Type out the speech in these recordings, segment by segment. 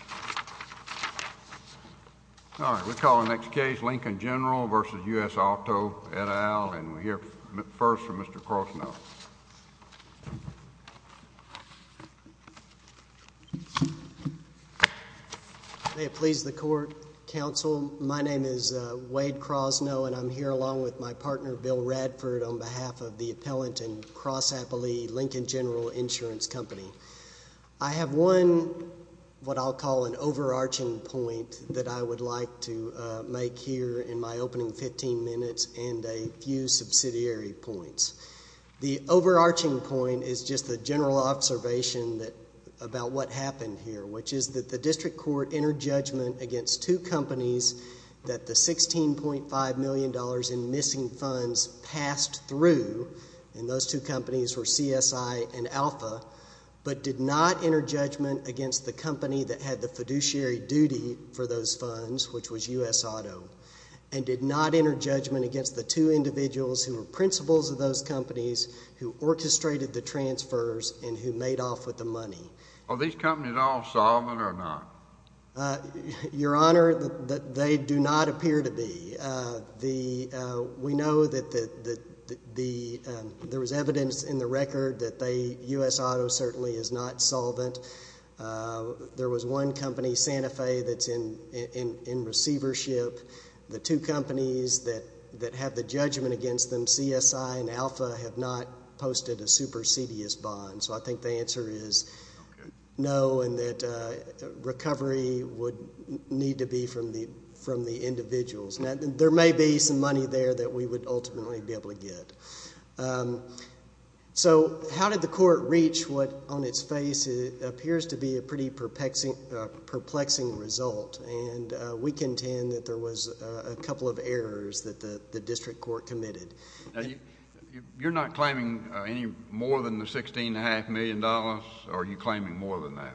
All right, we'll call the next case, Lincoln General v. U.S. Auto et al., and we'll hear first from Mr. Crosno. May it please the Court, Counsel, my name is Wade Crosno, and I'm here along with my partner Bill Radford on behalf of the appellant in Cross Appley, Lincoln General Insurance Company. I have one, what I'll call an overarching point that I would like to make here in my opening 15 minutes and a few subsidiary points. The overarching point is just a general observation about what happened here, which is that the District Court entered judgment against two companies that the $16.5 million in missing funds passed through, and those two companies were CSI and Alpha, but did not enter judgment against the company that had the fiduciary duty for those funds, which was U.S. Auto, and did not enter judgment against the two individuals who were principals of those companies who orchestrated the transfers and who made off with the money. Are these companies all solvent or not? Your Honor, they do not appear to be. We know that there was evidence in the record that U.S. Auto certainly is not solvent. There was one company, Santa Fe, that's in receivership. The two companies that have the judgment against them, CSI and Alpha, have not posted a supersedious bond, so I think the answer is no, and that recovery would need to be from the individuals. There may be some money there that we would ultimately be able to get. So how did the Court reach what, on its face, appears to be a pretty perplexing result? We contend that there was a couple of errors that the District Court committed. You're not claiming any more than the $16.5 million, or are you claiming more than that?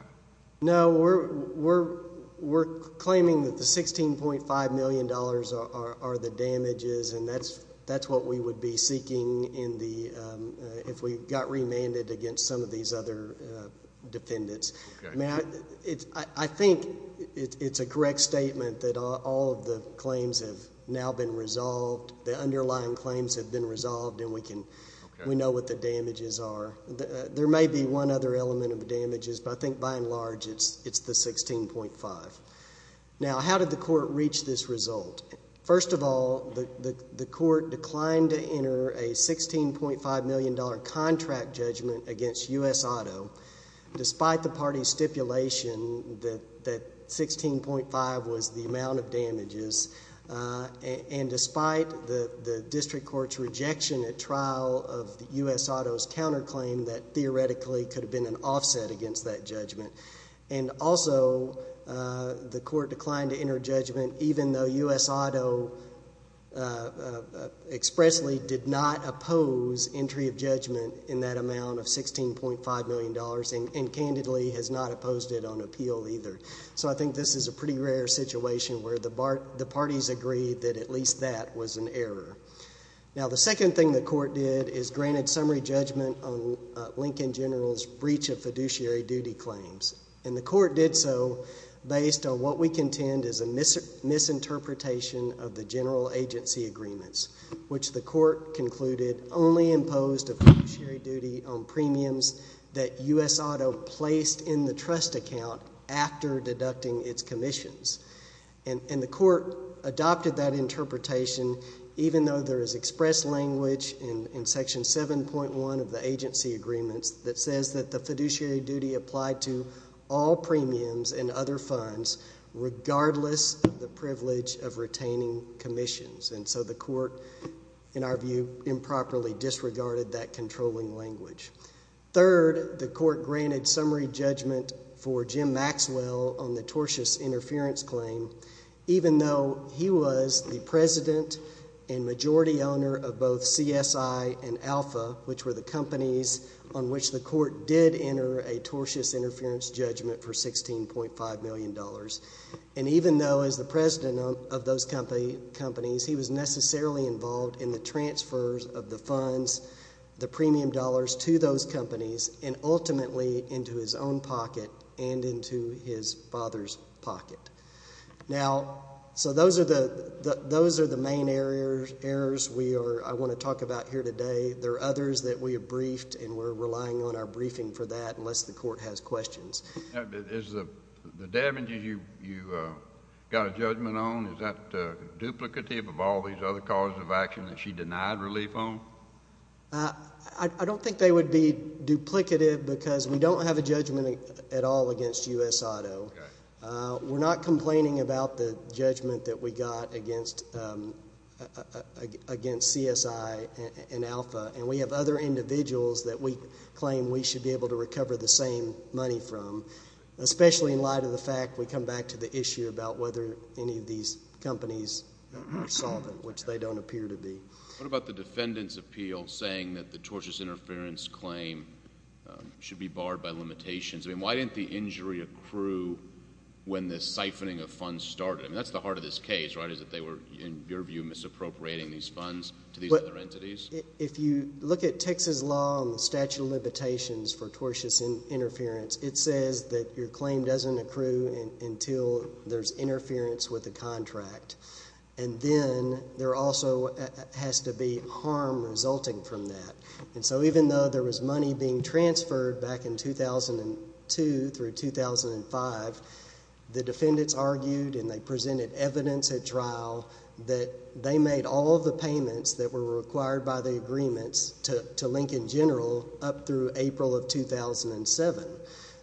No, we're claiming that the $16.5 million are the damages, and that's what we would be seeking if we got remanded against some of these other defendants. I think it's a correct statement that all of the claims have now been resolved. The underlying claims have been resolved, and we know what the damages are. There may be one other element of damages, but I think, by and large, it's the $16.5. Now how did the Court reach this result? First of all, the Court declined to enter a $16.5 million contract judgment against U.S. Auto, despite the party's stipulation that $16.5 was the amount of damages, and despite the District Court's rejection at trial of U.S. Auto's counterclaim that theoretically could have been an offset against that judgment. And also, the Court declined to enter judgment even though U.S. Auto expressly did not oppose entry of judgment in that amount of $16.5 million, and candidly has not opposed it on appeal either. So I think this is a pretty rare situation where the parties agree that at least that was an error. Now the second thing the Court did is granted summary judgment on Lincoln General's breach of fiduciary duty claims, and the Court did so based on what we contend is a misinterpretation of the general agency agreements, which the Court concluded only imposed a fiduciary duty on premiums that U.S. Auto placed in the trust account after deducting its commissions. And the Court adopted that interpretation, even though there is express language in Section 7.1 of the agency agreements that says that the fiduciary duty applied to all premiums and other funds, regardless of the privilege of retaining commissions. And so the Court, in our view, improperly disregarded that controlling language. Third, the Court granted summary judgment for Jim Maxwell on the tortious interference claim, even though he was the president and majority owner of both CSI and Alpha, which were the companies on which the Court did enter a tortious interference judgment for $16.5 million. And even though as the president of those companies, he was necessarily involved in the transfers of the funds, the premium dollars to those companies, and ultimately into his own pocket and into his father's pocket. Now, so those are the main errors we are, I want to talk about here today. There are others that we have briefed, and we're relying on our briefing for that unless the Court has questions. Is the damages you got a judgment on, is that duplicative of all these other causes of action that she denied relief on? I don't think they would be duplicative because we don't have a judgment at all against U.S. Auto. We're not complaining about the judgment that we got against CSI and Alpha, and we have other individuals that we claim we should be able to recover the same money from, especially in light of the fact we come back to the issue about whether any of these companies are solvent, which they don't appear to be. What about the defendant's appeal saying that the tortious interference claim should be barred by limitations? I mean, why didn't the injury accrue when the siphoning of funds started? I mean, that's the heart of this case, right, is that they were, in your view, misappropriating these funds to these other entities? If you look at Texas law on the statute of limitations for tortious interference, it says that your claim doesn't accrue until there's interference with the contract, and then there also has to be harm resulting from that. So even though there was money being transferred back in 2002 through 2005, the defendants argued and they presented evidence at trial that they made all of the payments that were required by the agreements to Lincoln General up through April of 2007.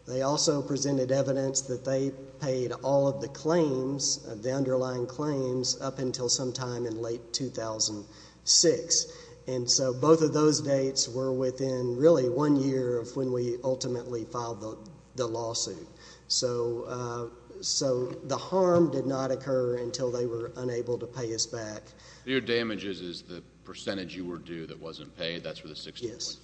They also presented evidence that they paid all of the claims, the underlying claims, up until sometime in late 2006. And so both of those dates were within, really, one year of when we ultimately filed the lawsuit. So the harm did not occur until they were unable to pay us back. So your damages is the percentage you were due that wasn't paid, that's for the 16.5 companies?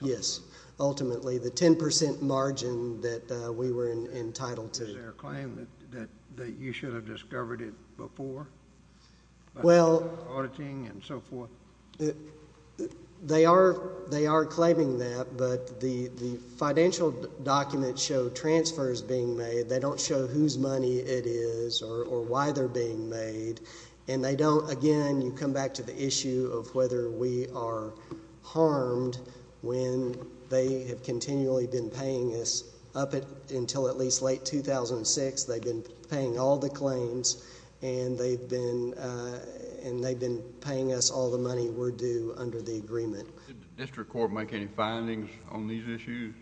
Yes. Yes. Ultimately, the 10 percent margin that we were entitled to. Is there a claim that you should have discovered it before, by auditing and so forth? They are claiming that, but the financial documents show transfers being made. They don't show whose money it is or why they're being made. And they don't, again, you come back to the issue of whether we are harmed when they have continually been paying us up until at least late 2006, they've been paying all the claims and they've been paying us all the money we're due under the agreement. Did the district court make any findings on these issues?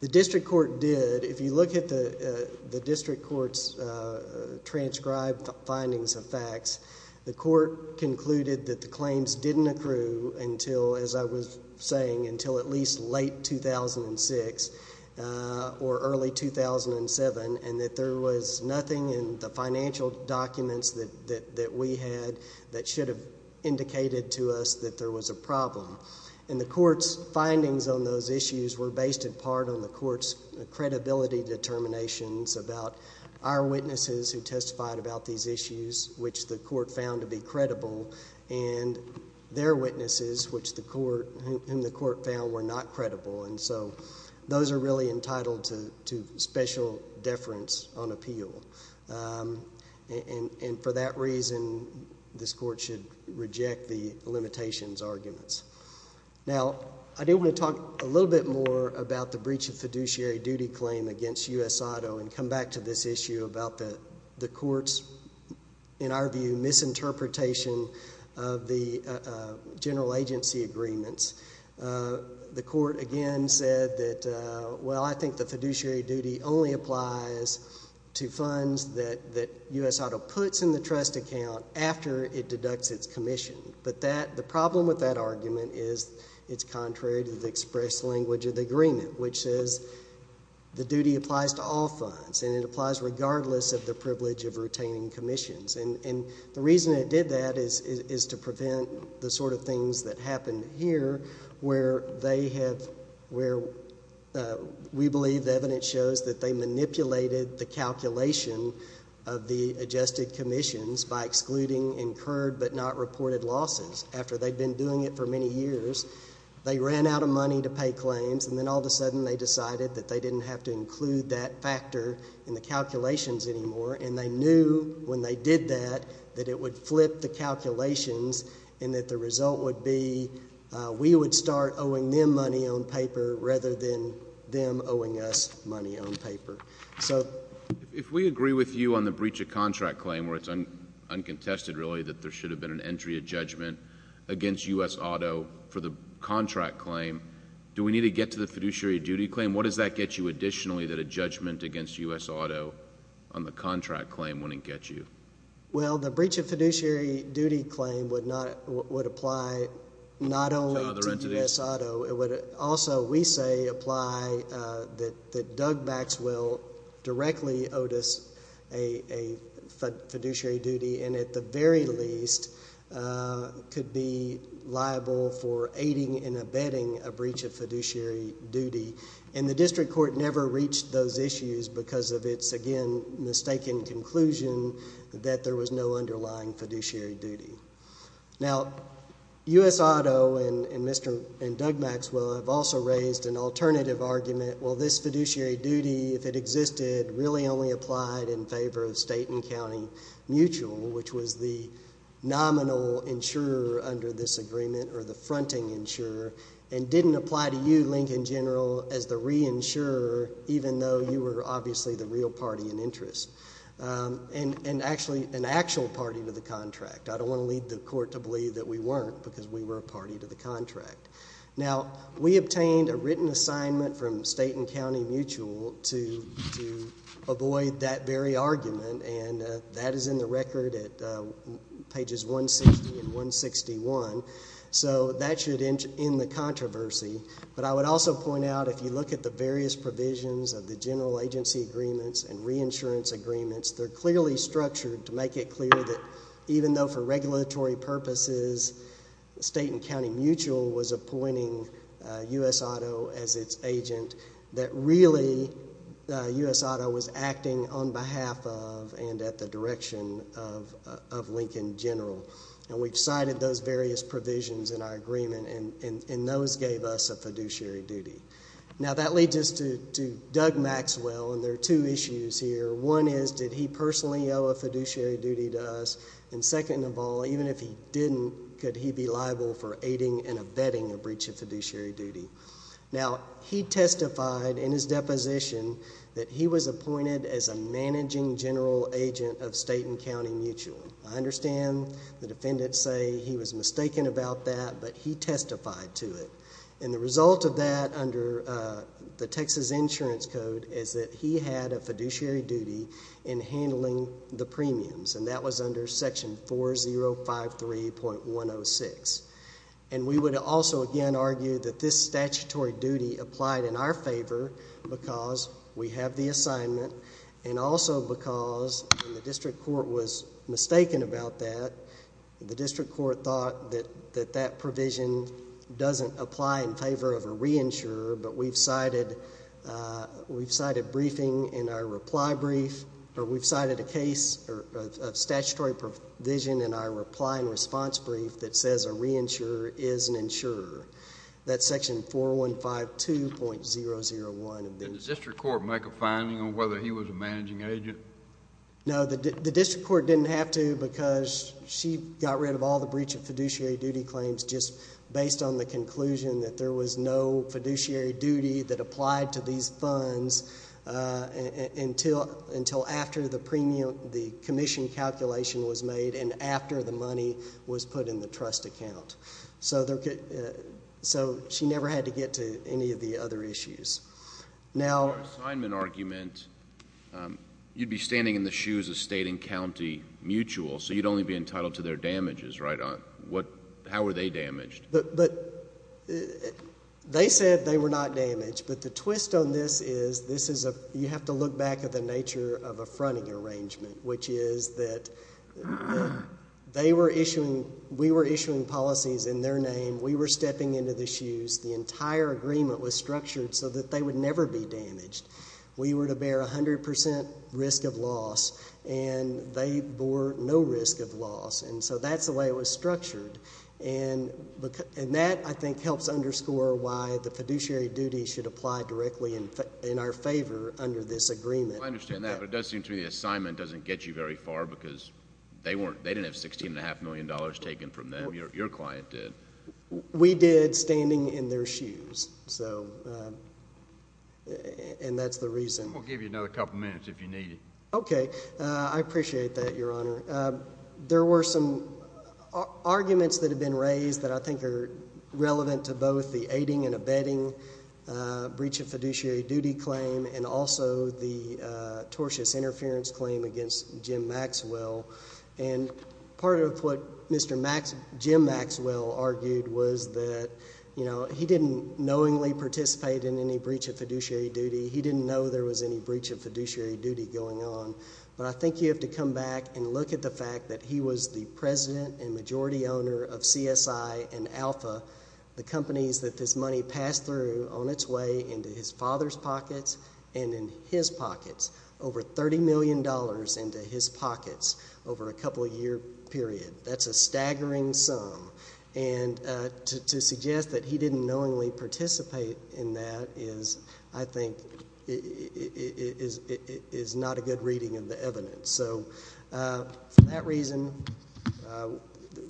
The district court did. But if you look at the district court's transcribed findings of facts, the court concluded that the claims didn't accrue until, as I was saying, until at least late 2006 or early 2007, and that there was nothing in the financial documents that we had that should have indicated to us that there was a problem. The court's findings on those issues were based in part on the court's credibility determinations about our witnesses who testified about these issues, which the court found to be credible, and their witnesses, whom the court found were not credible. Those are really entitled to special deference on appeal. And for that reason, this court should reject the limitations arguments. Now, I do want to talk a little bit more about the breach of fiduciary duty claim against U.S. Auto and come back to this issue about the court's, in our view, misinterpretation of the general agency agreements. The court, again, said that, well, I think the fiduciary duty only applies to funds that U.S. Auto puts in the trust account after it deducts its commission. But the problem with that argument is it's contrary to the express language of the agreement, which says the duty applies to all funds, and it applies regardless of the privilege of retaining commissions. And the reason it did that is to prevent the sort of things that happened here, where they have, where we believe the evidence shows that they manipulated the calculation of the adjusted commissions by excluding incurred but not reported losses. After they'd been doing it for many years, they ran out of money to pay claims, and then all of a sudden they decided that they didn't have to include that factor in the calculations anymore, and they knew when they did that that it would flip the calculations and that the result would be we would start owing them money on paper rather than them owing us money on paper. So... If we agree with you on the breach of contract claim, where it's uncontested, really, that there should have been an entry of judgment against U.S. Auto for the contract claim, do we need to get to the fiduciary duty claim? And what does that get you additionally, that a judgment against U.S. Auto on the contract claim wouldn't get you? Well, the breach of fiduciary duty claim would apply not only to U.S. Auto, it would also, we say, apply that Doug Maxwell directly owed us a fiduciary duty, and at the very least could be liable for aiding and abetting a breach of fiduciary duty, and the district court never reached those issues because of its, again, mistaken conclusion that there was no underlying fiduciary duty. Now, U.S. Auto and Doug Maxwell have also raised an alternative argument, well, this fiduciary duty, if it existed, really only applied in favor of state and county mutual, which was the nominal insurer under this agreement, or the fronting insurer, and didn't apply to you, Lincoln General, as the reinsurer, even though you were obviously the real party in interest, and actually an actual party to the contract. I don't want to lead the court to believe that we weren't, because we were a party to the contract. Now, we obtained a written assignment from state and county mutual to avoid that very weird at pages 160 and 161, so that should end the controversy, but I would also point out if you look at the various provisions of the general agency agreements and reinsurance agreements, they're clearly structured to make it clear that even though for regulatory purposes state and county mutual was appointing U.S. Auto as its agent, that really U.S. Auto was acting on behalf of and at the direction of Lincoln General, and we've cited those various provisions in our agreement, and those gave us a fiduciary duty. Now, that leads us to Doug Maxwell, and there are two issues here. One is, did he personally owe a fiduciary duty to us? And second of all, even if he didn't, could he be liable for aiding and abetting a breach of fiduciary duty? Now, he testified in his deposition that he was appointed as a managing general agent of state and county mutual. I understand the defendants say he was mistaken about that, but he testified to it, and the result of that under the Texas Insurance Code is that he had a fiduciary duty in handling the premiums, and that was under section 4053.106, and we would also again argue that this statutory duty applied in our favor because we have the assignment, and also because the district court was mistaken about that. The district court thought that that provision doesn't apply in favor of a reinsurer, but we've cited briefing in our reply brief, or we've cited a case of statutory provision in our reply and response brief that says a reinsurer is an insurer. That's section 4152.001 of the... Did the district court make a finding on whether he was a managing agent? No, the district court didn't have to because she got rid of all the breach of fiduciary duty claims just based on the conclusion that there was no fiduciary duty that applied to these funds until after the commission calculation was made and after the money was put in the trust account. So, she never had to get to any of the other issues. Now... In your assignment argument, you'd be standing in the shoes of state and county mutual, so you'd only be entitled to their damages, right? How were they damaged? They said they were not damaged, but the twist on this is you have to look back at the nature of a fronting arrangement, which is that they were issuing... we were issuing policies in their name. We were stepping into the shoes. The entire agreement was structured so that they would never be damaged. We were to bear 100 percent risk of loss, and they bore no risk of loss, and so that's the way it was structured, and that, I think, helps underscore why the fiduciary duty should apply directly in our favor under this agreement. I understand that, but it does seem to me the assignment doesn't get you very far because they didn't have $16.5 million taken from them. Your client did. We did standing in their shoes, and that's the reason... We'll give you another couple minutes if you need it. Okay. I appreciate that, Your Honor. There were some arguments that have been raised that I think are relevant to both the aiding and abetting breach of fiduciary duty claim and also the tortious interference claim against Jim Maxwell, and part of what Mr. Max... Jim Maxwell argued was that, you know, he didn't knowingly participate in any breach of fiduciary duty. He didn't know there was any breach of fiduciary duty going on, but I think you have to come back and look at the fact that he was the president and majority owner of CSI and Alpha, the companies that this money passed through on its way into his father's pockets and in his pockets, over $30 million into his pockets over a couple-year period. That's a staggering sum, and to suggest that he didn't knowingly participate in that is, I think, is not a good reading of the evidence. So, for that reason,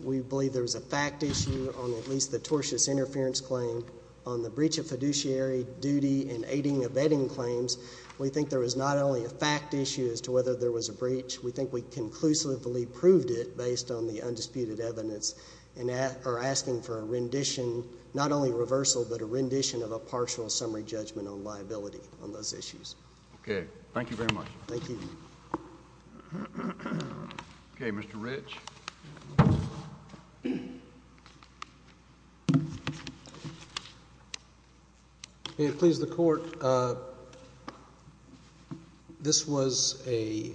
we believe there was a fact issue on at least the tortious interference claim on the breach of fiduciary duty and aiding and abetting claims. We think there was not only a fact issue as to whether there was a breach. We think we conclusively proved it based on the undisputed evidence and are asking for a rendition, not only reversal, but a rendition of a partial summary judgment on liability on those issues. Okay. Thank you very much. Thank you. Okay. Mr. Rich. May it please the Court, this was a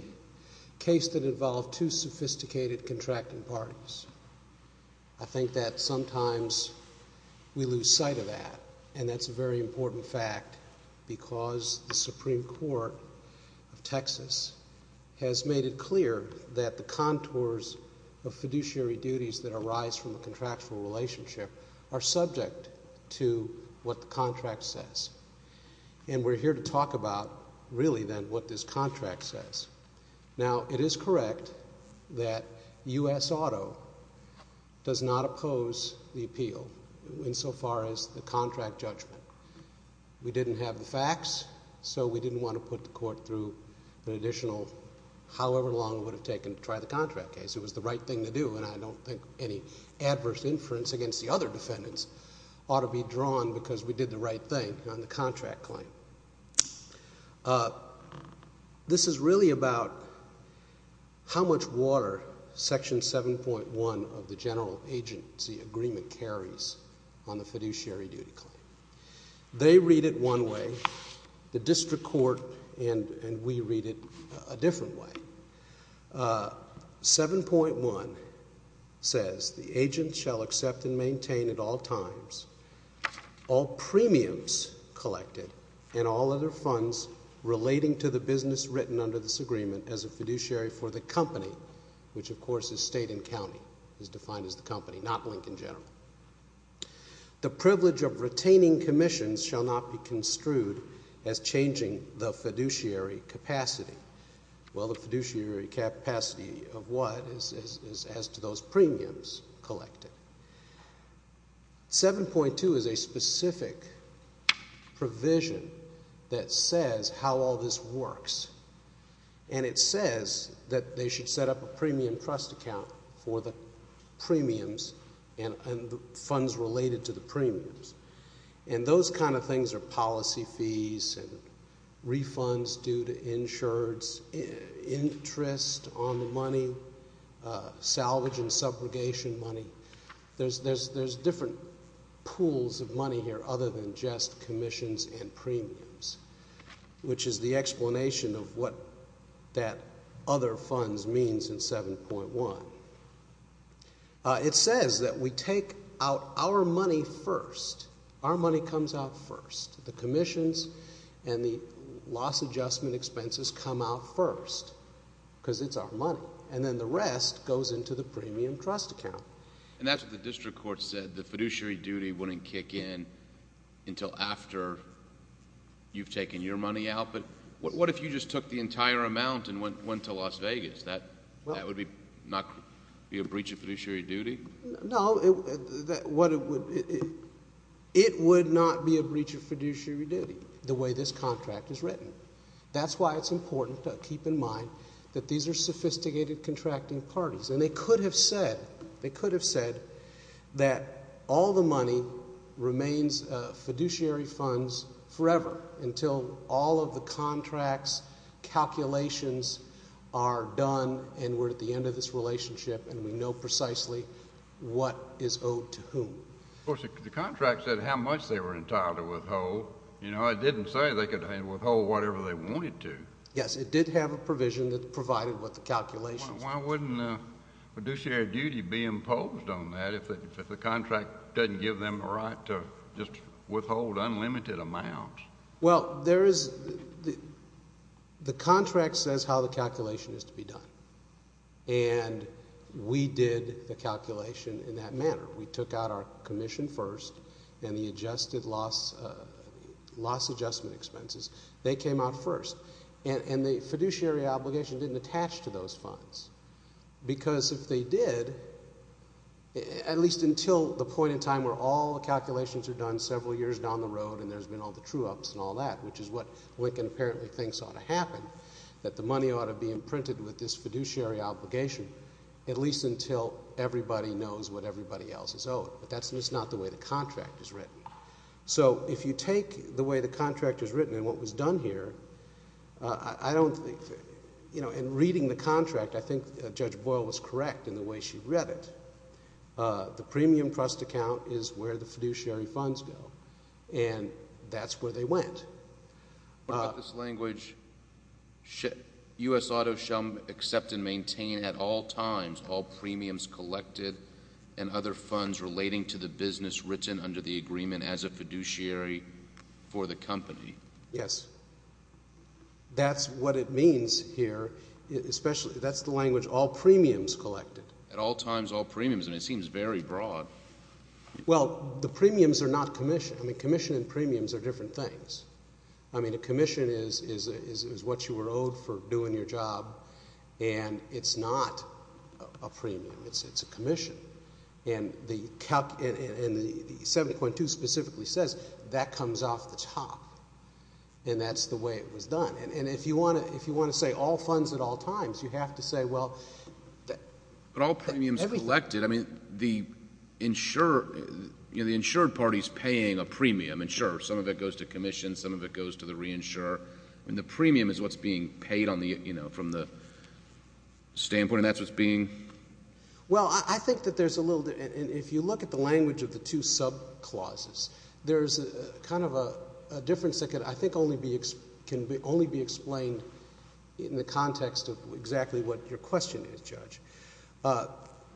case that involved two sophisticated contracting parties. I think that sometimes we lose sight of that, and that's a very important fact because the has made it clear that the contours of fiduciary duties that arise from a contractual relationship are subject to what the contract says, and we're here to talk about, really, then, what this contract says. Now, it is correct that U.S. Auto does not oppose the appeal insofar as the contract judgment. We didn't have the facts, so we didn't want to put the Court through an additional however long it would have taken to try the contract case. It was the right thing to do, and I don't think any adverse inference against the other defendants ought to be drawn because we did the right thing on the contract claim. This is really about how much water Section 7.1 of the General Agency Agreement carries on the fiduciary duty claim. They read it one way, the district court and we read it a different way. 7.1 says, the agent shall accept and maintain at all times all premiums collected and all other funds relating to the business written under this agreement as a fiduciary for the The privilege of retaining commissions shall not be construed as changing the fiduciary capacity. Well, the fiduciary capacity of what is as to those premiums collected. 7.2 is a specific provision that says how all this works, and it says that they should set up a premium trust account for the premiums and the funds related to the premiums. Those kind of things are policy fees, refunds due to insureds, interest on the money, salvage and subrogation money. There's different pools of money here other than just commissions and premiums, which is the explanation of what that other funds means in 7.1. It says that we take out our money first. Our money comes out first. The commissions and the loss adjustment expenses come out first because it's our money, and then the rest goes into the premium trust account. And that's what the district court said, the fiduciary duty wouldn't kick in until after you've taken your money out, but what if you just took the entire amount and went to Las Vegas? That would not be a breach of fiduciary duty? No, it would not be a breach of fiduciary duty the way this contract is written. That's why it's important to keep in mind that these are sophisticated contracting parties, and they could have said, they could have said that all the money remains fiduciary funds forever until all of the contracts, calculations are done and we're at the end of this relationship and we know precisely what is owed to whom. Of course, the contract said how much they were entitled to withhold. You know, it didn't say they could withhold whatever they wanted to. Yes, it did have a provision that provided what the calculations were. Why wouldn't fiduciary duty be imposed on that if the contract doesn't give them the right to just withhold unlimited amounts? Well, there is, the contract says how the calculation is to be done, and we did the calculation in that manner. We took out our commission first and the adjusted loss, loss adjustment expenses, they came out first, and the fiduciary obligation didn't attach to those funds because if they did, at least until the point in time where all the calculations are done several years down the road and there's been all the true-ups and all that, which is what Lincoln apparently thinks ought to happen, that the money ought to be imprinted with this fiduciary obligation at least until everybody knows what everybody else is owed, but that's just not the way the contract is written. So if you take the way the contract is written and what was done here, I don't think... you know, in reading the contract, I think Judge Boyle was correct in the way she read it. The premium trust account is where the fiduciary funds go, and that's where they went. What about this language, U.S. Auto shall accept and maintain at all times all premiums under the agreement as a fiduciary for the company? Yes. That's what it means here, especially... that's the language, all premiums collected. At all times, all premiums, and it seems very broad. Well, the premiums are not commissioned. I mean, commission and premiums are different things. I mean, a commission is what you were owed for doing your job, and it's not a premium. It's a commission. And the 7.2 specifically says that comes off the top, and that's the way it was done. And if you want to say all funds at all times, you have to say, well... But all premiums collected, I mean, the insured party is paying a premium. And sure, some of it goes to commission, some of it goes to the reinsurer. I mean, the premium is what's being paid from the standpoint, and that's what's being... Well, I think that there's a little... and if you look at the language of the two sub-clauses, there's kind of a difference that I think can only be explained in the context of exactly what your question is, Judge.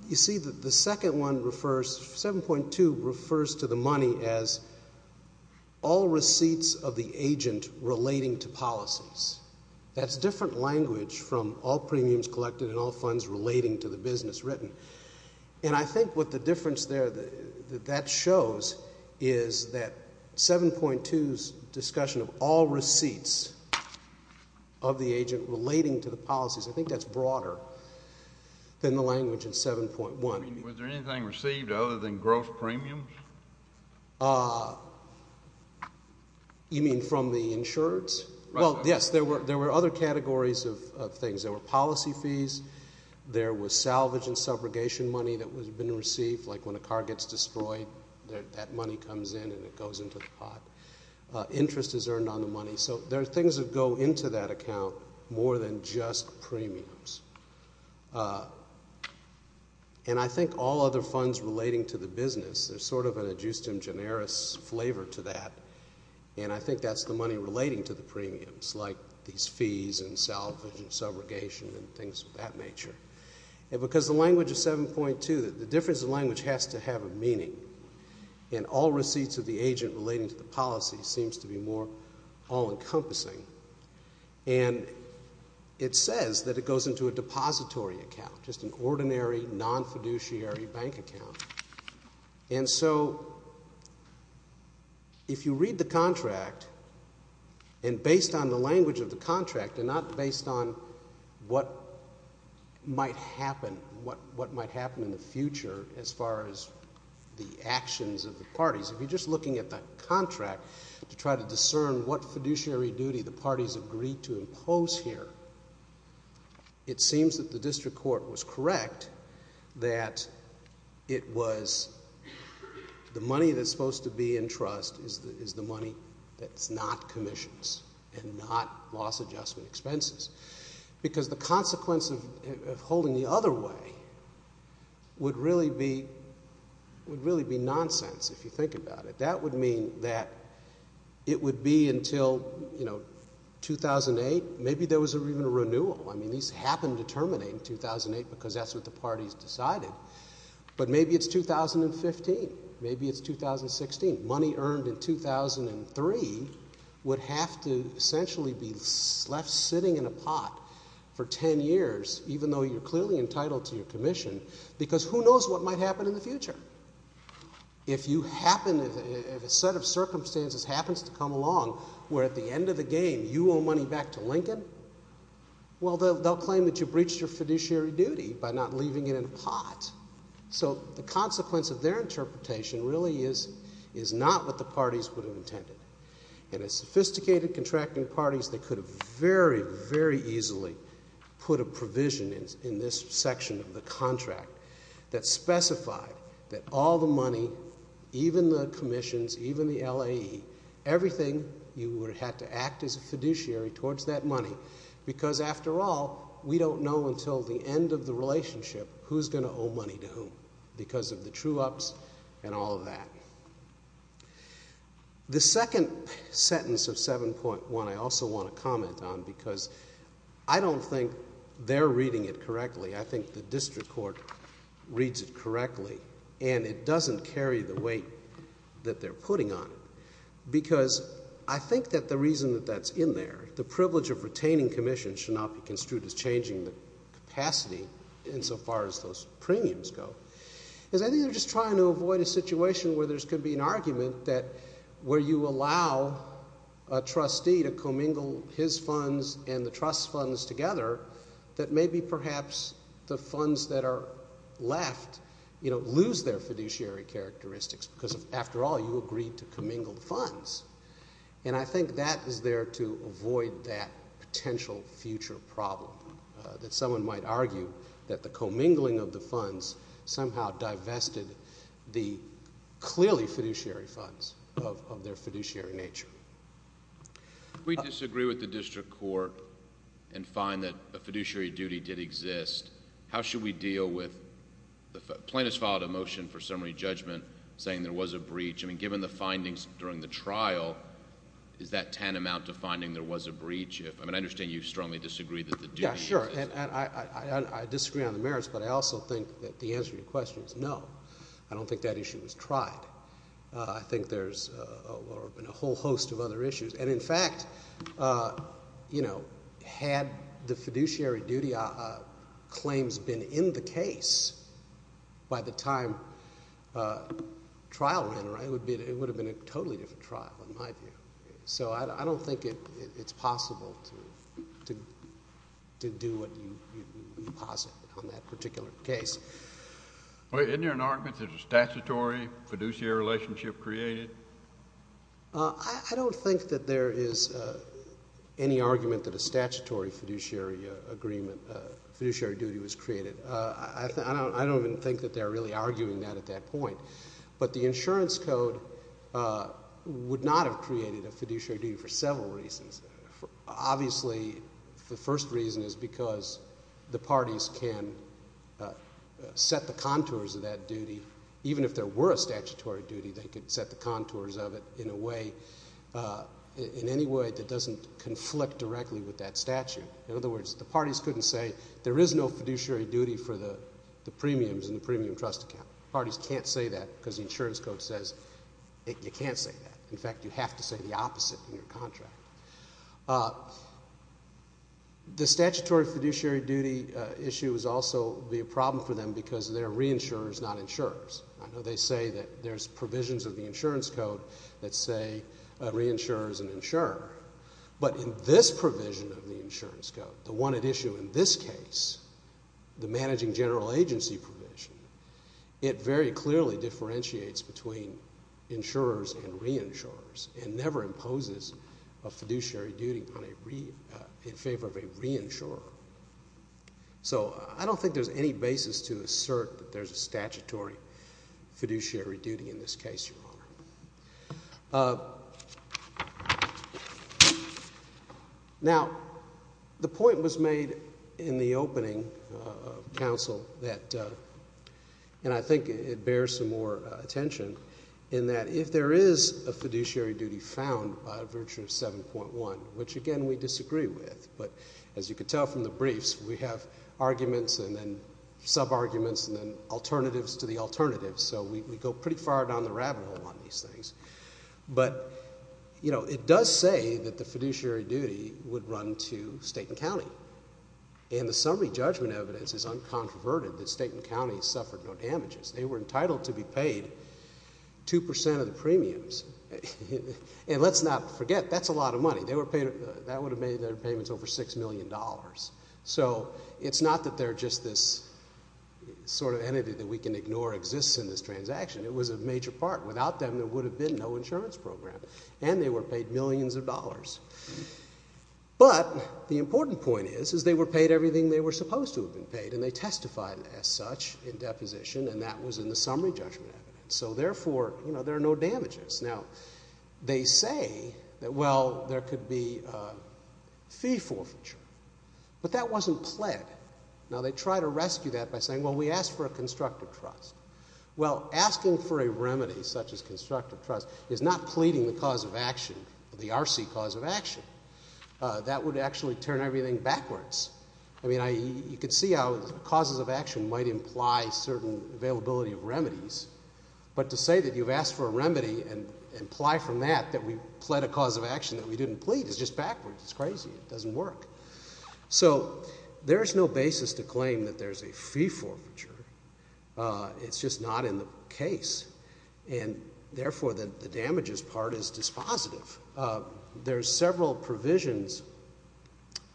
You see that the second one refers... 7.2 refers to the money as all receipts of the agent relating to policies. That's different language from all premiums collected and all funds relating to the business written. And I think what the difference there that that shows is that 7.2's discussion of all receipts of the agent relating to the policies, I think that's broader than the language in 7.1. Was there anything received other than gross premiums? You mean from the insurers? Well, yes. There were other categories of things. There were policy fees. There was salvage and subrogation money that had been received, like when a car gets destroyed, that money comes in and it goes into the pot. Interest is earned on the money. So there are things that go into that account more than just premiums. And I think all other funds relating to the business, there's sort of an adjustum generis flavor to that, and I think that's the money relating to the premiums, like these fees and salvage and subrogation and things of that nature. And because the language of 7.2, the difference in language has to have a meaning, and all receipts of the agent relating to the policies seems to be more all-encompassing. And it says that it goes into a depository account, just an ordinary, non-fiduciary bank account. And so if you read the contract, and based on the language of the contract and not based on what might happen in the future as far as the actions of the parties, if you're just looking at the contract to try to discern what fiduciary duty the parties agreed to impose here, it seems that the district court was correct that it was the money that's supposed to be in trust is the money that's not commissions and not loss adjustment expenses. Because the consequence of holding the other way would really be nonsense, if you think about it. That would mean that it would be until 2008. Maybe there was even a renewal. I mean, these happened to terminate in 2008 because that's what the parties decided. But maybe it's 2015. Maybe it's 2016. Money earned in 2003 would have to essentially be left sitting in a pot for ten years, even though you're clearly entitled to your commission, because who knows what might happen in the future? If a set of circumstances happens to come along where at the end of the game you owe money back to Lincoln, well, they'll claim that you breached your fiduciary duty by not leaving it in a pot. So the consequence of their interpretation really is not what the parties would have intended. And as sophisticated contracting parties, they could have very, very easily put a provision in this section of the contract that specified that all the money, even the commissions, even the LAE, everything you would have to act as a fiduciary towards that money, because after all, we don't know until the end of the relationship who's going to owe money to whom, because of the true-ups and all of that. The second sentence of 7.1 I also want to comment on, because I don't think they're reading it correctly. I think the district court reads it correctly, and it doesn't carry the weight that they're putting on it, because I think that the reason that that's in there, the privilege of retaining commissions should not be construed as changing the capacity insofar as those premiums go, is I think they're just trying to avoid a situation where there could be an argument that where you allow a trustee to commingle his funds and the trust's funds together that maybe perhaps the funds that are left lose their fiduciary characteristics, because after all, you agreed to commingle the funds, and I think that is there to avoid that potential future problem that someone might argue that the commingling of the funds somehow divested the clearly fiduciary funds of their fiduciary nature. We disagree with the district court and find that a fiduciary duty did exist. How should we deal with the plaintiff's filed a motion for summary judgment saying there was a breach. I mean, given the findings during the trial, is that tantamount to finding there was a breach? I mean, I understand you strongly disagree that the duty... Yeah, sure, and I disagree on the merits, but I also think that the answer to your question is no. I don't think that issue was tried. I think there's been a whole host of other issues, and in fact, you know, had the fiduciary duty claims been in the case by the time trial ran, it would have been a totally different trial in my view. So I don't think it's possible to do what you posit on that particular case. Well, isn't there an argument that a statutory fiduciary relationship created? I don't think that there is any argument that a statutory fiduciary agreement, fiduciary duty was created. I don't even think that they're really arguing that at that point. But the insurance code would not have created a fiduciary duty for several reasons. Obviously, the first reason is because the parties can set the contours of that duty. Even if there were a statutory duty, they could set the contours of it in a way, in any way that doesn't conflict directly with that statute. In other words, the parties couldn't say there is no fiduciary duty for the premiums in the premium trust account. Parties can't say that because the insurance code says you can't say that. In fact, you have to say the opposite in your contract. The statutory fiduciary duty issue would also be a problem for them because they're re-insurers, not insurers. I know they say that there's provisions of the insurance code that say re-insurers and insurer. But in this provision of the insurance code, the one at issue in this case, the managing general agency provision, it very clearly differentiates between insurers and re-insurers and never imposes a fiduciary duty in favor of a re-insurer. So I don't think there's any basis to assert that there's a statutory fiduciary duty in this case, Your Honor. Now, the point was made in the opening counsel that, and I think it bears some more attention, in that if there is a fiduciary duty found by virtue of 7.1, which again we disagree with, but as you can tell from the briefs, we have arguments and then sub-arguments and then alternatives to the alternatives. So we go pretty far down the rabbit hole on these things. But it does say that the fiduciary duty would run to state and county. And the summary judgment evidence is uncontroverted that state and county suffered no damages. They were entitled to be paid 2% of the premiums. And let's not forget, that's a lot of money. That would have made their payments over $6 million. So it's not that they're just this sort of entity that we can ignore exists in this transaction. It was a major part. Without them, there would have been no insurance program. And they were paid millions of dollars. But the important point is, is they were paid everything they were supposed to have been paid. And they testified as such in deposition, and that was in the summary judgment evidence. So therefore, there are no damages. Now, they say that, well, there could be fee forfeiture. But that wasn't pled. Now, they try to rescue that by saying, well, we asked for a constructive trust. Well, asking for a remedy such as constructive trust is not pleading the cause of action, the RC cause of action. That would actually turn everything backwards. I mean, you could see how causes of action might imply certain availability of remedies. But to say that you've asked for a remedy and imply from that that we pled a cause of action that we didn't plead is just backwards. It's crazy. It doesn't work. So there's no basis to claim that there's a fee forfeiture. It's just not in the case. And therefore, the damages part is dispositive. There's several provisions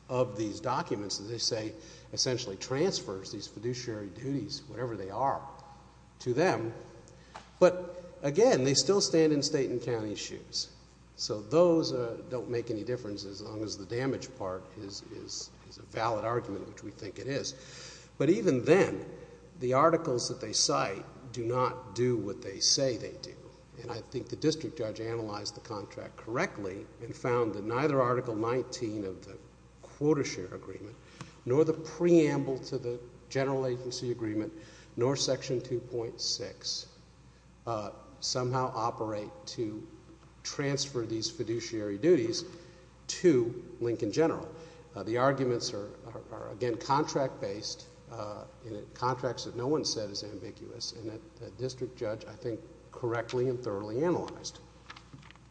of these documents that they say essentially transfers these fiduciary duties, whatever they are, to them. But, again, they still stand in state and county's shoes. So those don't make any difference as long as the damage part is a valid argument, which we think it is. But even then, the articles that they cite do not do what they say they do. And I think the district judge analyzed the contract correctly and found that neither Article 19 of the Quotashare Agreement nor the preamble to the General Agency Agreement nor Section 2.6 somehow operate to transfer these fiduciary duties to Lincoln General. The arguments are, again, contract-based. Contracts that no one said is ambiguous. And the district judge, I think, correctly and thoroughly analyzed.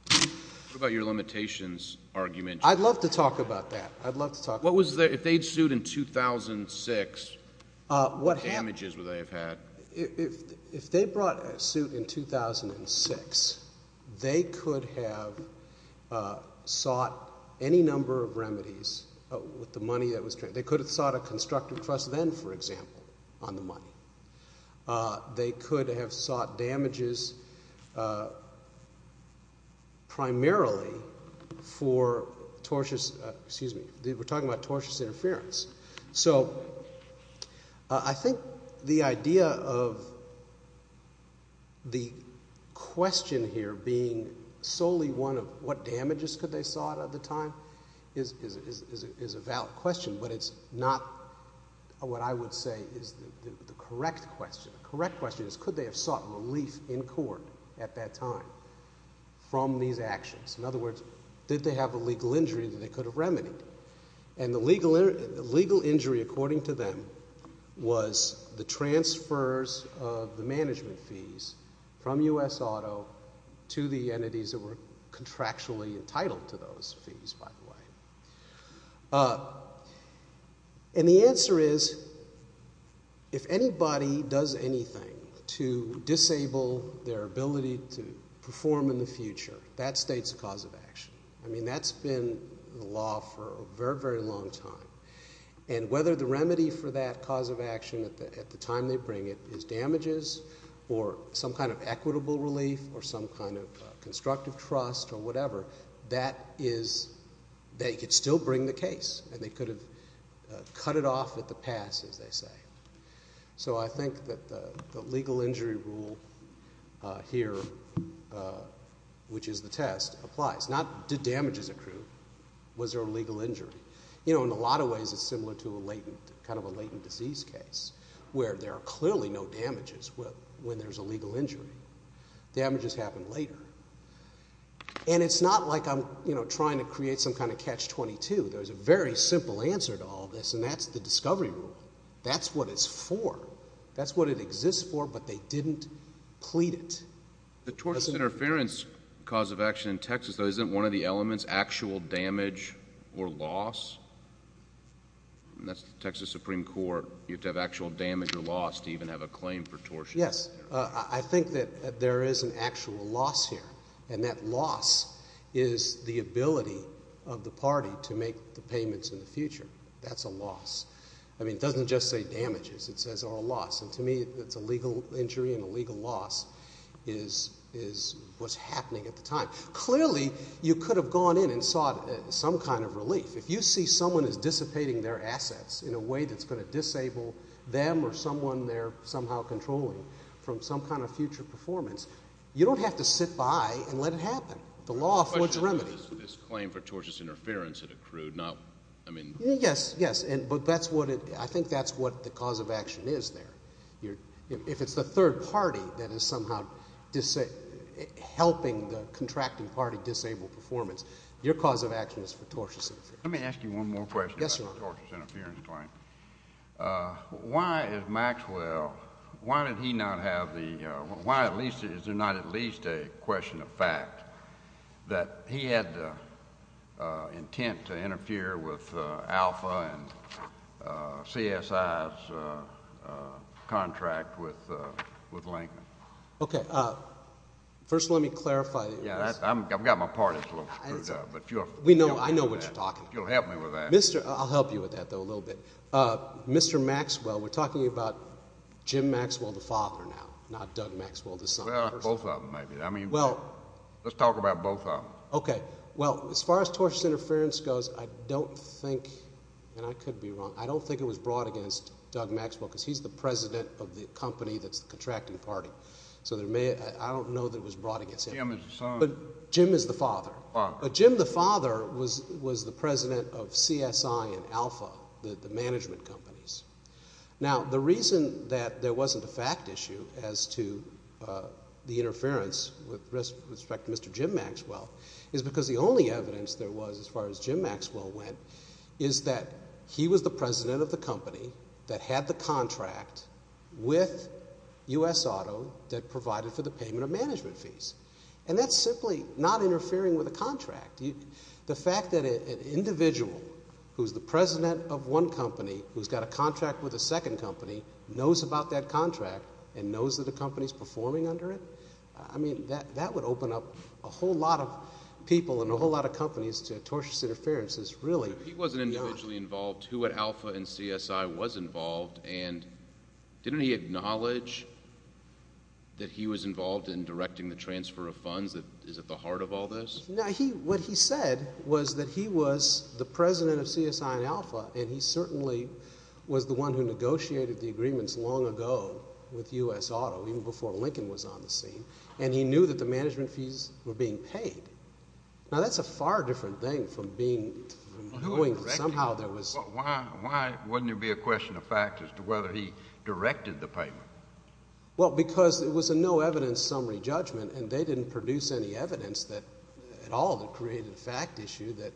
What about your limitations argument? I'd love to talk about that. I'd love to talk about that. If they'd sued in 2006, what damages would they have had? If they brought a suit in 2006, they could have sought any number of remedies with the money that was transferred. They could have sought a constructive trust then, for example, on the money. They could have sought damages primarily for tortious – excuse me, we're talking about tortious interference. So I think the idea of the question here being solely one of what damages could they have sought at the time is a valid question. But it's not what I would say is the correct question. The correct question is could they have sought relief in court at that time from these actions? In other words, did they have a legal injury that they could have remedied? And the legal injury, according to them, was the transfers of the management fees from U.S. Auto to the entities that were contractually entitled to those fees, by the way. And the answer is if anybody does anything to disable their ability to perform in the future, that states a cause of action. I mean that's been the law for a very, very long time. And whether the remedy for that cause of action at the time they bring it is damages or some kind of equitable relief or some kind of constructive trust or whatever, that is – they could still bring the case. And they could have cut it off at the pass, as they say. So I think that the legal injury rule here, which is the test, applies. Not did damages accrue. Was there a legal injury? In a lot of ways it's similar to a latent – kind of a latent disease case where there are clearly no damages when there's a legal injury. Damages happen later. And it's not like I'm trying to create some kind of catch-22. There's a very simple answer to all this, and that's the discovery rule. That's what it's for. That's what it exists for, but they didn't plead it. The tortious interference cause of action in Texas, though, isn't one of the elements actual damage or loss? And that's the Texas Supreme Court. You have to have actual damage or loss to even have a claim for tortious interference. Yes. I think that there is an actual loss here. And that loss is the ability of the party to make the payments in the future. That's a loss. I mean it doesn't just say damages. It says loss. And to me it's a legal injury and a legal loss is what's happening at the time. Clearly you could have gone in and sought some kind of relief. If you see someone is dissipating their assets in a way that's going to disable them or someone they're somehow controlling from some kind of future performance, you don't have to sit by and let it happen. The law affords remedy. This claim for tortious interference that accrued, not – I mean – Yes, yes. But that's what it – I think that's what the cause of action is there. If it's the third party that is somehow helping the contracting party disable performance, your cause of action is for tortious interference. Let me ask you one more question about the tortious interference claim. Yes, Your Honor. Why is Maxwell – why did he not have the – why at least – is there not at least a question of fact that he had the intent to interfere with Alpha and CSI's contract with Lincoln? Okay. First let me clarify. I've got my parties a little screwed up. We know. I know what you're talking about. You'll help me with that. I'll help you with that, though, a little bit. Mr. Maxwell, we're talking about Jim Maxwell, the father now, not Doug Maxwell, the son. Well, both of them maybe. I mean – Well – Let's talk about both of them. Okay. Well, as far as tortious interference goes, I don't think – and I could be wrong – I don't think it was brought against Doug Maxwell because he's the president of the company that's the contracting party. So there may – I don't know that it was brought against him. Jim is the son. Jim is the father. Father. Jim the father was the president of CSI and Alpha, the management companies. Now, the reason that there wasn't a fact issue as to the interference with respect to Mr. Jim Maxwell is because the only evidence there was as far as Jim Maxwell went is that he was the president of the company that had the contract with U.S. Auto that provided for the payment of management fees. And that's simply not interfering with a contract. The fact that an individual who's the president of one company who's got a contract with a second company knows about that contract and knows that the company is performing under it, I mean that would open up a whole lot of people and a whole lot of companies to tortious interference is really not – Now, what he said was that he was the president of CSI and Alpha, and he certainly was the one who negotiated the agreements long ago with U.S. Auto even before Lincoln was on the scene, and he knew that the management fees were being paid. Now, that's a far different thing from being – from knowing somehow there was – Why wouldn't there be a question of fact as to whether he directed the payment? Well, because it was a no evidence summary judgment, and they didn't produce any evidence at all that created a fact issue that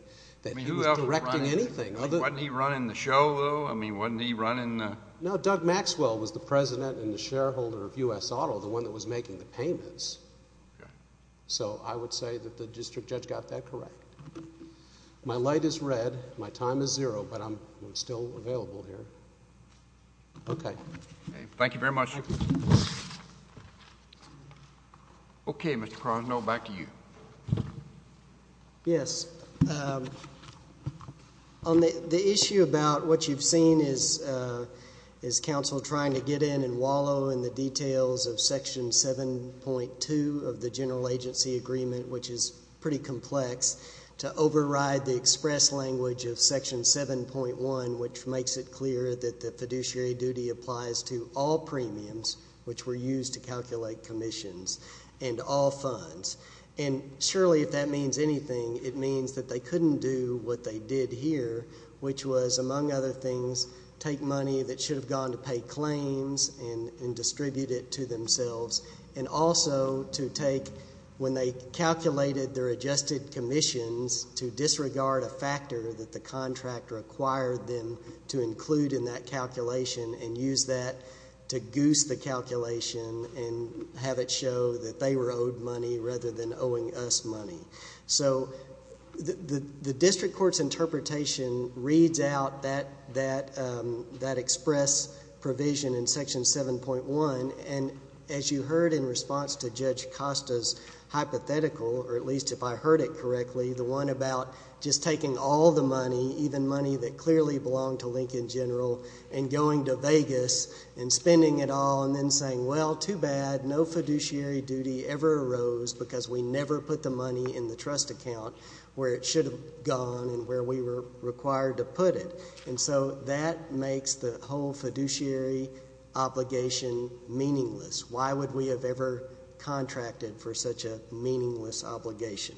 he was directing anything. Wasn't he running the show, though? I mean wasn't he running the – No, Doug Maxwell was the president and the shareholder of U.S. Auto, the one that was making the payments. So I would say that the district judge got that correct. My light is red. My time is zero, but I'm still available here. Okay. Thank you very much. Okay, Mr. Crosnell, back to you. Yes. On the issue about what you've seen is counsel trying to get in and wallow in the details of Section 7.2 of the General Agency Agreement, which is pretty complex, to override the express language of Section 7.1, which makes it clear that the fiduciary duty applies to all premiums, which were used to calculate commissions, and all funds. And surely if that means anything, it means that they couldn't do what they did here, which was, among other things, take money that should have gone to pay claims and distribute it to themselves, and also to take when they calculated their adjusted commissions to disregard a factor that the contractor acquired them to include in that calculation and use that to goose the calculation and have it show that they were owed money rather than owing us money. So the district court's interpretation reads out that express provision in Section 7.1, and as you heard in response to Judge Costa's hypothetical, or at least if I heard it correctly, the one about just taking all the money, even money that clearly belonged to Lincoln General, and going to Vegas and spending it all and then saying, well, too bad, no fiduciary duty ever arose because we never put the money in the trust account where it should have gone and where we were required to put it. And so that makes the whole fiduciary obligation meaningless. Why would we have ever contracted for such a meaningless obligation?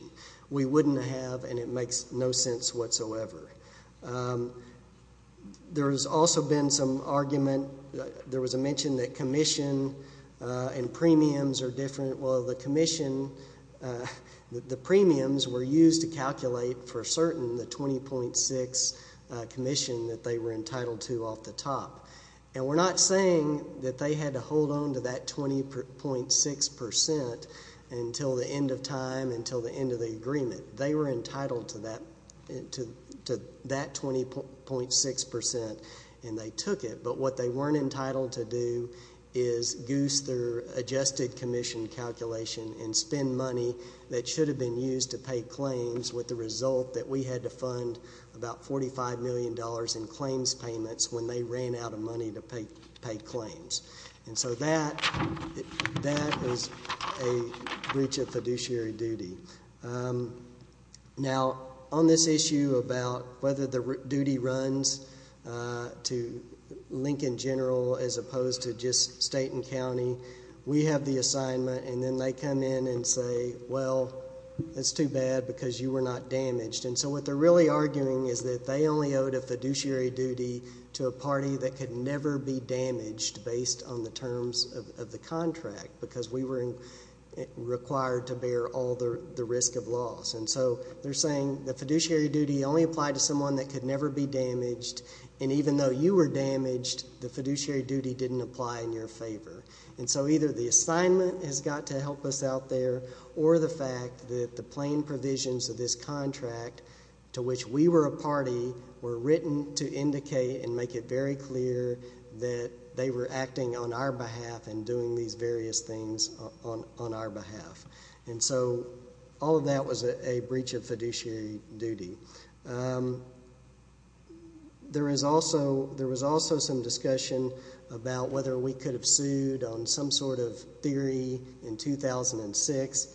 We wouldn't have, and it makes no sense whatsoever. There has also been some argument. There was a mention that commission and premiums are different. Well, the commission, the premiums were used to calculate for certain the 20.6 commission that they were entitled to off the top, and we're not saying that they had to hold on to that 20.6% until the end of time, until the end of the agreement. They were entitled to that 20.6%, and they took it, but what they weren't entitled to do is goose their adjusted commission calculation and spend money that should have been used to pay claims with the result that we had to fund about $45 million in claims payments when they ran out of money to pay claims. And so that was a breach of fiduciary duty. Now, on this issue about whether the duty runs to Lincoln General as opposed to just state and county, we have the assignment, and then they come in and say, well, it's too bad because you were not damaged. And so what they're really arguing is that they only owed a fiduciary duty to a party that could never be damaged based on the terms of the contract because we were required to bear all the risk of loss. And so they're saying the fiduciary duty only applied to someone that could never be damaged, and even though you were damaged, the fiduciary duty didn't apply in your favor. And so either the assignment has got to help us out there or the fact that the plain provisions of this contract to which we were a party were written to indicate and make it very clear that they were acting on our behalf and doing these various things on our behalf. And so all of that was a breach of fiduciary duty. There was also some discussion about whether we could have sued on some sort of theory in 2006.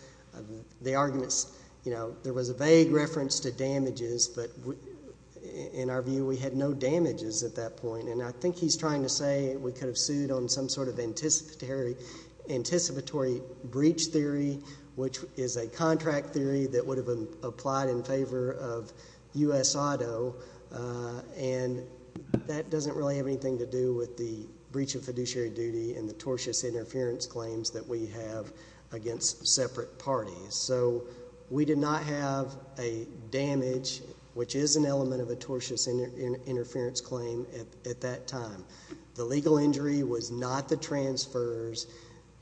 The arguments, you know, there was a vague reference to damages, but in our view we had no damages at that point. And I think he's trying to say we could have sued on some sort of anticipatory breach theory, which is a contract theory that would have applied in favor of U.S. auto, and that doesn't really have anything to do with the breach of fiduciary duty and the tortious interference claims that we have against separate parties. So we did not have a damage, which is an element of a tortious interference claim at that time. The legal injury was not the transfers.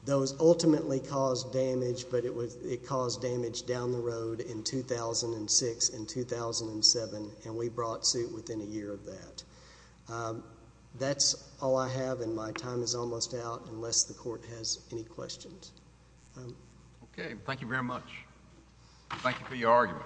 Those ultimately caused damage, but it caused damage down the road in 2006 and 2007, and we brought suit within a year of that. That's all I have, and my time is almost out unless the Court has any questions. Okay. Thank you very much. Thank you for your argument.